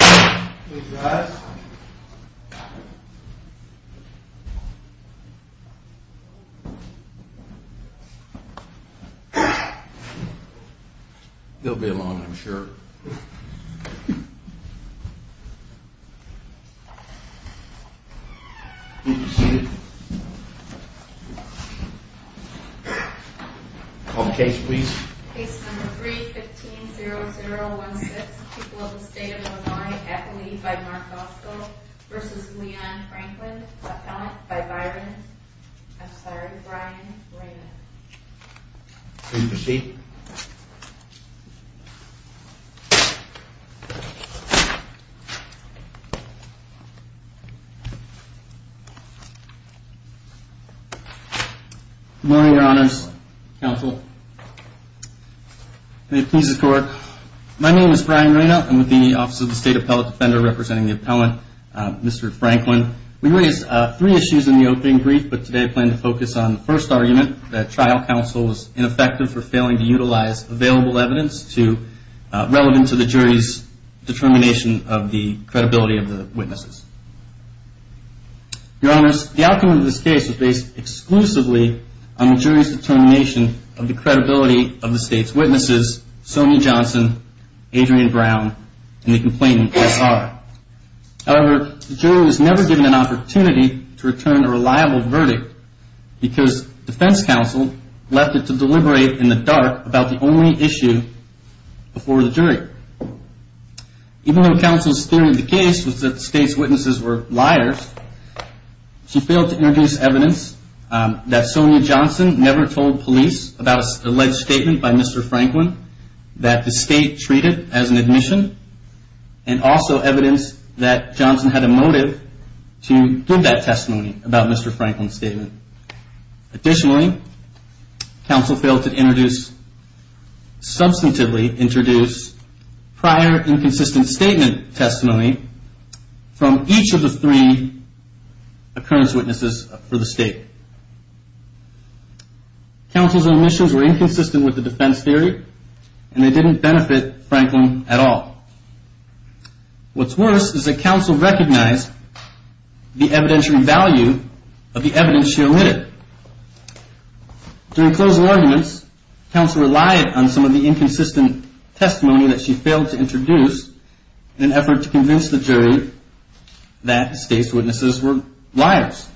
Mhm. There'll be a lot of sure. Sea quite case. Please case number 3 15 0 0 1 6 people of the state of Illinois at the lead by Mark Bosco versus Leon Franklin by Byron. I'm sorry, Brian. Can you proceed? Morning, Your Honors Council. Please support. My name is Brian Reno. I'm with the Office of the State Appellate Defender, representing the appellant, Mr Franklin. We raised three issues in the opening brief, but today I plan to focus on the first argument that trial counsel is ineffective for failing to utilize available evidence to relevant to the jury's determination of the credibility of the witnesses. Your Honors, the outcome of this case is based exclusively on the jury's determination of the credibility of the state's witnesses, Sonia Johnson, Adrian Brown, and the complainant, SR. However, the jury was never given an opportunity to return a reliable verdict because defense counsel left it to deliberate in the dark about the only issue before the jury. Even though counsel's theory of the case was that the state's witnesses were liars, she never told police about an alleged statement by Mr. Franklin that the state treated as an admission, and also evidence that Johnson had a motive to give that testimony about Mr. Franklin's statement. Additionally, counsel failed to introduce, substantively introduce, prior inconsistent statement testimony from each of the three occurrence witnesses for the state. Counsel's omissions were inconsistent with the defense theory, and they didn't benefit Franklin at all. What's worse is that counsel recognized the evidentiary value of the evidence she omitted. During closing arguments, counsel relied on some of the inconsistent testimony that she failed to introduce in an effort to convince the jury that the state's witnesses were liars.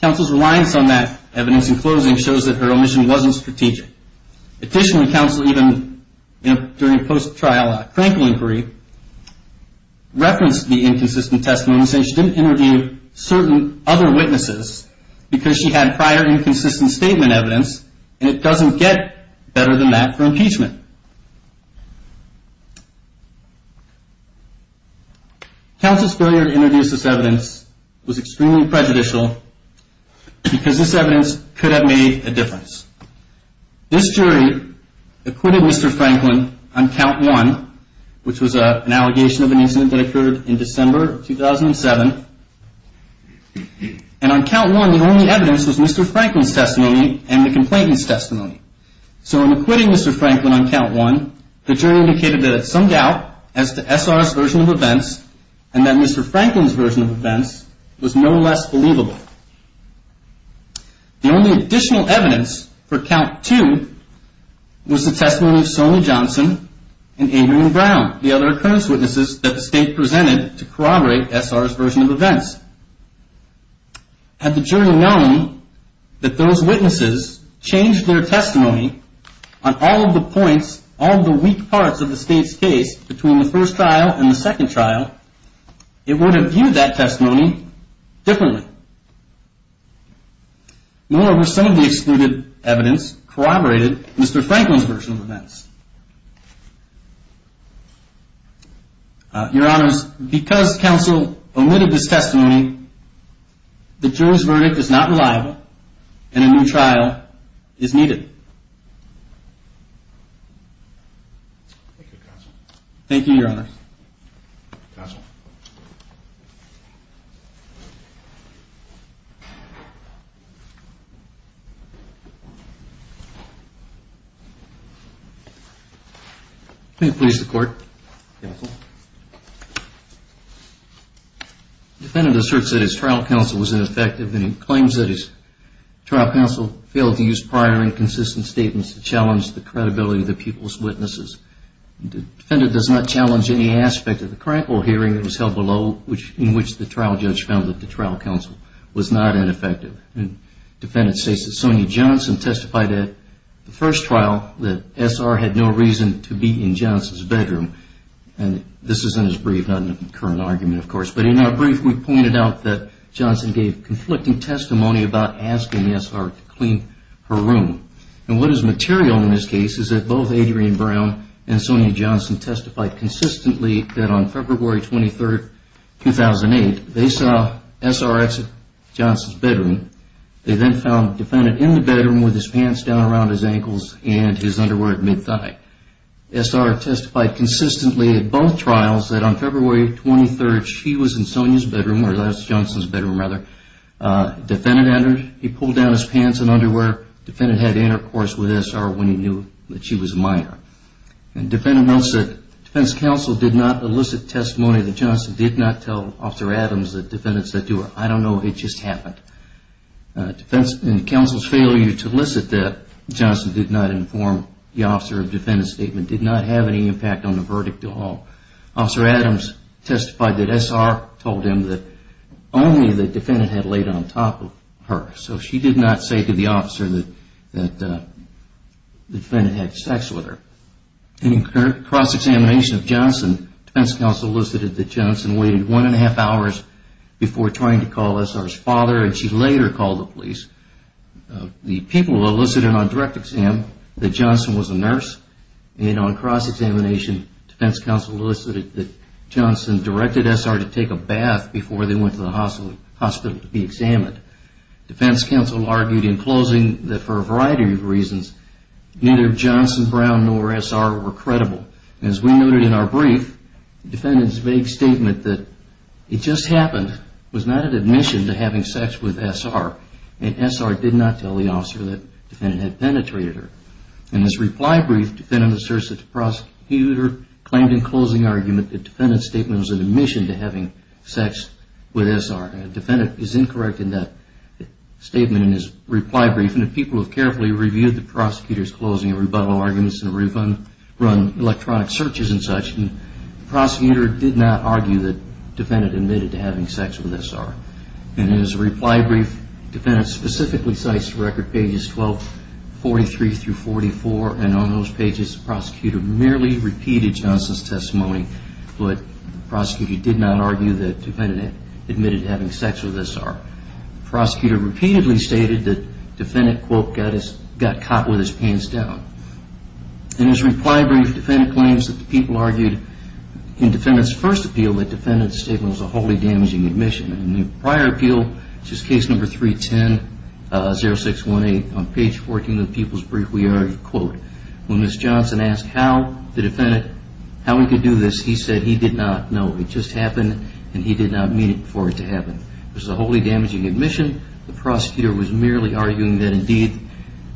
Counsel's reliance on that evidence in closing shows that her omission wasn't strategic. Additionally, counsel, even during post-trial Franklin inquiry, referenced the inconsistent testimony, saying she didn't interview certain other witnesses because she had prior inconsistent statement evidence, and it doesn't get better than that for impeachment. Counsel's failure to introduce this evidence was extremely prejudicial because this evidence could have made a difference. This jury acquitted Mr. Franklin on count one, which was an allegation of an incident that occurred in December of 2007, and on count one, the only evidence was Mr. Franklin's testimony and the complainant's testimony. So in acquitting Mr. Franklin on count one, the jury indicated that some doubt as to SR's version of events and that Mr. Franklin's version of events was no less believable. The only additional evidence for count two was the testimony of Sonny Johnson and Adrienne Brown, the other occurrence witnesses that the state presented to corroborate SR's version of events. Had the jury known that those witnesses changed their testimony on all of the points on the weak parts of the state's case between the first trial and the second trial, it would have viewed that testimony differently. Moreover, some of the excluded evidence corroborated Mr. Franklin's version of events. Your Honors, because counsel omitted this testimony, the jury's verdict is not reliable and a new trial is needed. Thank you, Your Honors. Counsel. May it please the Court. Counsel. The defendant asserts that his trial counsel was ineffective and he claims that his trial counsel failed to use prior and consistent statements to challenge the aspect of the crankle hearing that was held below in which the trial judge found that the trial counsel was not ineffective. The defendant states that Sonny Johnson testified at the first trial that SR had no reason to be in Johnson's bedroom and this is in his brief, not in the current argument, of course. But in our brief, we pointed out that Johnson gave conflicting testimony about asking SR to clean her room. And what is material in this case is that both Adrienne Brown and Sonny Johnson testified consistently that on February 23rd, 2008, they saw SR exit Johnson's bedroom. They then found the defendant in the bedroom with his pants down around his ankles and his underwear at mid-thigh. SR testified consistently at both trials that on February 23rd, she was in Sonny's bedroom, or that's Johnson's bedroom rather. The defendant entered, he pulled down his pants and underwear. The defendant had intercourse with SR when he knew that she was a minor. The defense counsel did not elicit testimony that Johnson did not tell Officer Adams that defendants said to her. I don't know, it just happened. The counsel's failure to elicit that Johnson did not inform the officer of defendant's statement did not have any impact on the verdict at all. Officer Adams testified that SR told him that only the defendant had laid on top of her. So she did not say to the officer that the defendant had sex with her. In cross-examination of Johnson, defense counsel elicited that Johnson waited one and a half hours before trying to call SR's father and she later called the police. The people elicited on direct exam that Johnson was a nurse. And on cross-examination, defense counsel elicited that Johnson directed SR to take a defense counsel argued in closing that for a variety of reasons, neither Johnson, Brown, nor SR were credible. As we noted in our brief, the defendant's vague statement that it just happened was not an admission to having sex with SR and SR did not tell the officer that the defendant had penetrated her. In his reply brief, the defendant asserts that the prosecutor claimed in closing argument that the defendant's statement was an admission to having sex with SR. And the defendant is incorrect in that statement in his reply brief. And the people have carefully reviewed the prosecutor's closing and rebuttal arguments and we've run electronic searches and such. And the prosecutor did not argue that the defendant admitted to having sex with SR. And in his reply brief, the defendant specifically cites record pages 1243 through 44. And on those pages, the prosecutor merely repeated Johnson's testimony, but the prosecutor did not argue that the defendant admitted to having sex with SR. The prosecutor repeatedly stated that the defendant, quote, got caught with his pants down. In his reply brief, the defendant claims that the people argued in the defendant's first appeal that the defendant's statement was a wholly damaging admission. In the prior appeal, which is case number 310-0618, on page 14 of the people's brief, we see that Johnson asked how the defendant, how he could do this. He said he did not know. It just happened and he did not mean it for it to happen. It was a wholly damaging admission. The prosecutor was merely arguing that indeed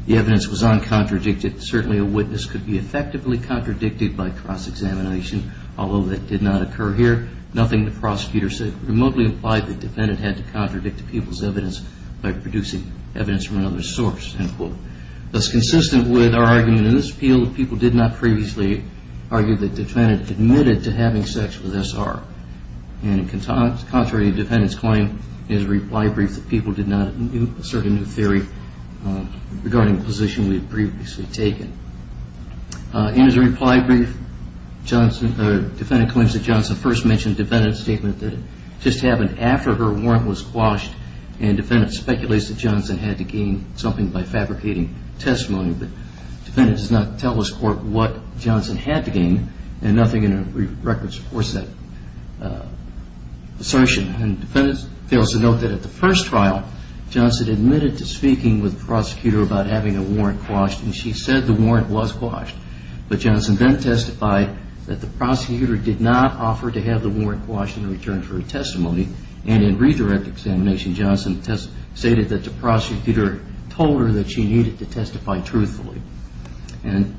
the evidence was uncontradicted. Certainly a witness could be effectively contradicted by cross-examination, although that did not occur here. Nothing the prosecutor said remotely implied the defendant had to contradict the people's evidence by producing evidence from another source, end quote. Thus, consistent with our argument in this appeal, the people did not previously argue that the defendant admitted to having sex with SR. And contrary to the defendant's claim, in his reply brief, the people did not assert a new theory regarding the position we had previously taken. In his reply brief, Johnson, the defendant claims that Johnson first mentioned the defendant's statement that it just happened after her warrant was quashed. The defendant does not tell us what Johnson had to gain and nothing in her brief record supports that assertion. The defendant fails to note that at the first trial, Johnson admitted to speaking with the prosecutor about having a warrant quashed and she said the warrant was quashed. But Johnson then testified that the prosecutor did not offer to have the warrant quashed in return for her testimony. And in redirect examination, Johnson stated that the prosecutor told her that she needed to testify truthfully. And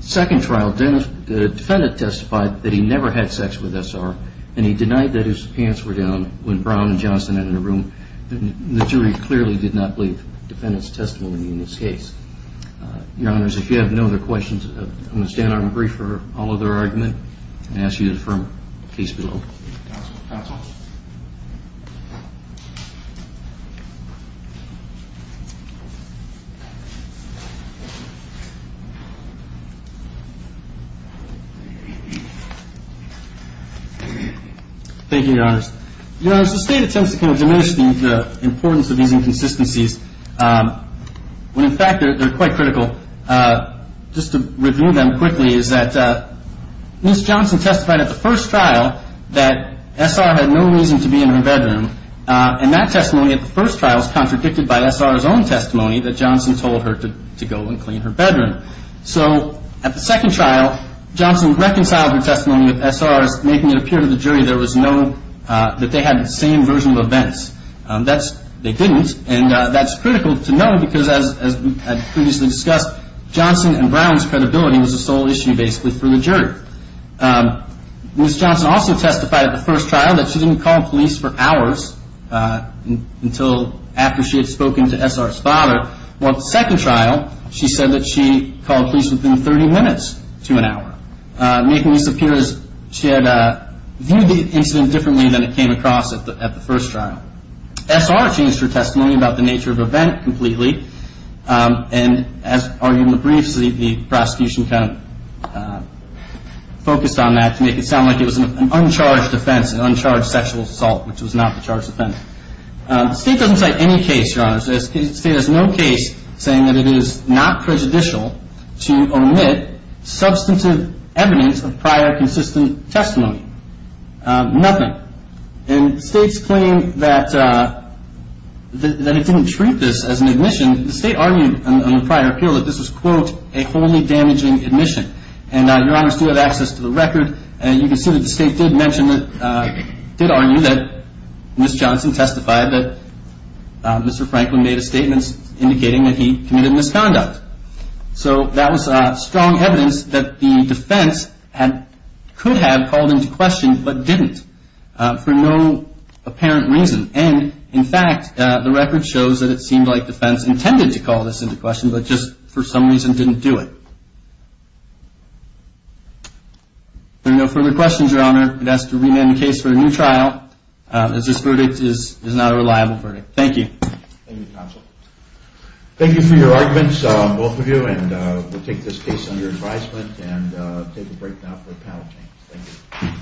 second trial, the defendant testified that he never had sex with SR and he denied that his pants were down when Brown and Johnson entered the room. The jury clearly did not believe the defendant's testimony in this case. Your Honors, if you have no other questions, I'm going to stand on the brief for all of their argument and ask you to stand up. Thank you, Your Honors. Your Honors, the state attempts to kind of diminish the importance of these inconsistencies when in fact they're quite critical. Just to review them quickly is that Ms. Johnson testified at the first trial that SR had no reason to be in her bedroom. And that testimony at the first trial is contradicted by SR's own testimony that Johnson told her to go and clean her bedroom. So at the second trial, Johnson reconciled her testimony with SR's, making it appear to the jury there was no, that they had the same version of events. That's, they didn't. And that's critical to know because as previously discussed, Johnson and Brown's credibility was the sole issue basically for the jury. Ms. Johnson also testified at the first trial that she didn't call police for hours until after she had spoken to SR's father. While at the second trial, she said that she called police within 30 minutes to an hour, making this appear as she had viewed the incident differently than it came across at the first trial. SR changed her testimony about the nature of the incident. And in the briefs, the prosecution kind of focused on that to make it sound like it was an uncharged offense, an uncharged sexual assault, which was not the charged offense. The state doesn't cite any case, Your Honor. The state has no case saying that it is not prejudicial to omit substantive evidence of prior consistent testimony. Nothing. And states claim that it didn't treat this as an admission. The state argued on the prior appeal that this was, quote, a wholly damaging admission. And Your Honors do have access to the record. And you can see that the state did mention that, did argue that Ms. Johnson testified that Mr. Franklin made a statement indicating that he committed misconduct. So that was strong evidence that the defense could have called into question but didn't for no apparent reason. And in fact, the record shows that it seemed like the defense intended to call this into question, but just for some reason didn't do it. There are no further questions, Your Honor. I'd ask to remand the case for a new trial, as this verdict is not a reliable verdict. Thank you. Thank you, Counsel. Thank you for your arguments, both of you. And we'll take this case under advisement and take a break now for a panel change. Thank you.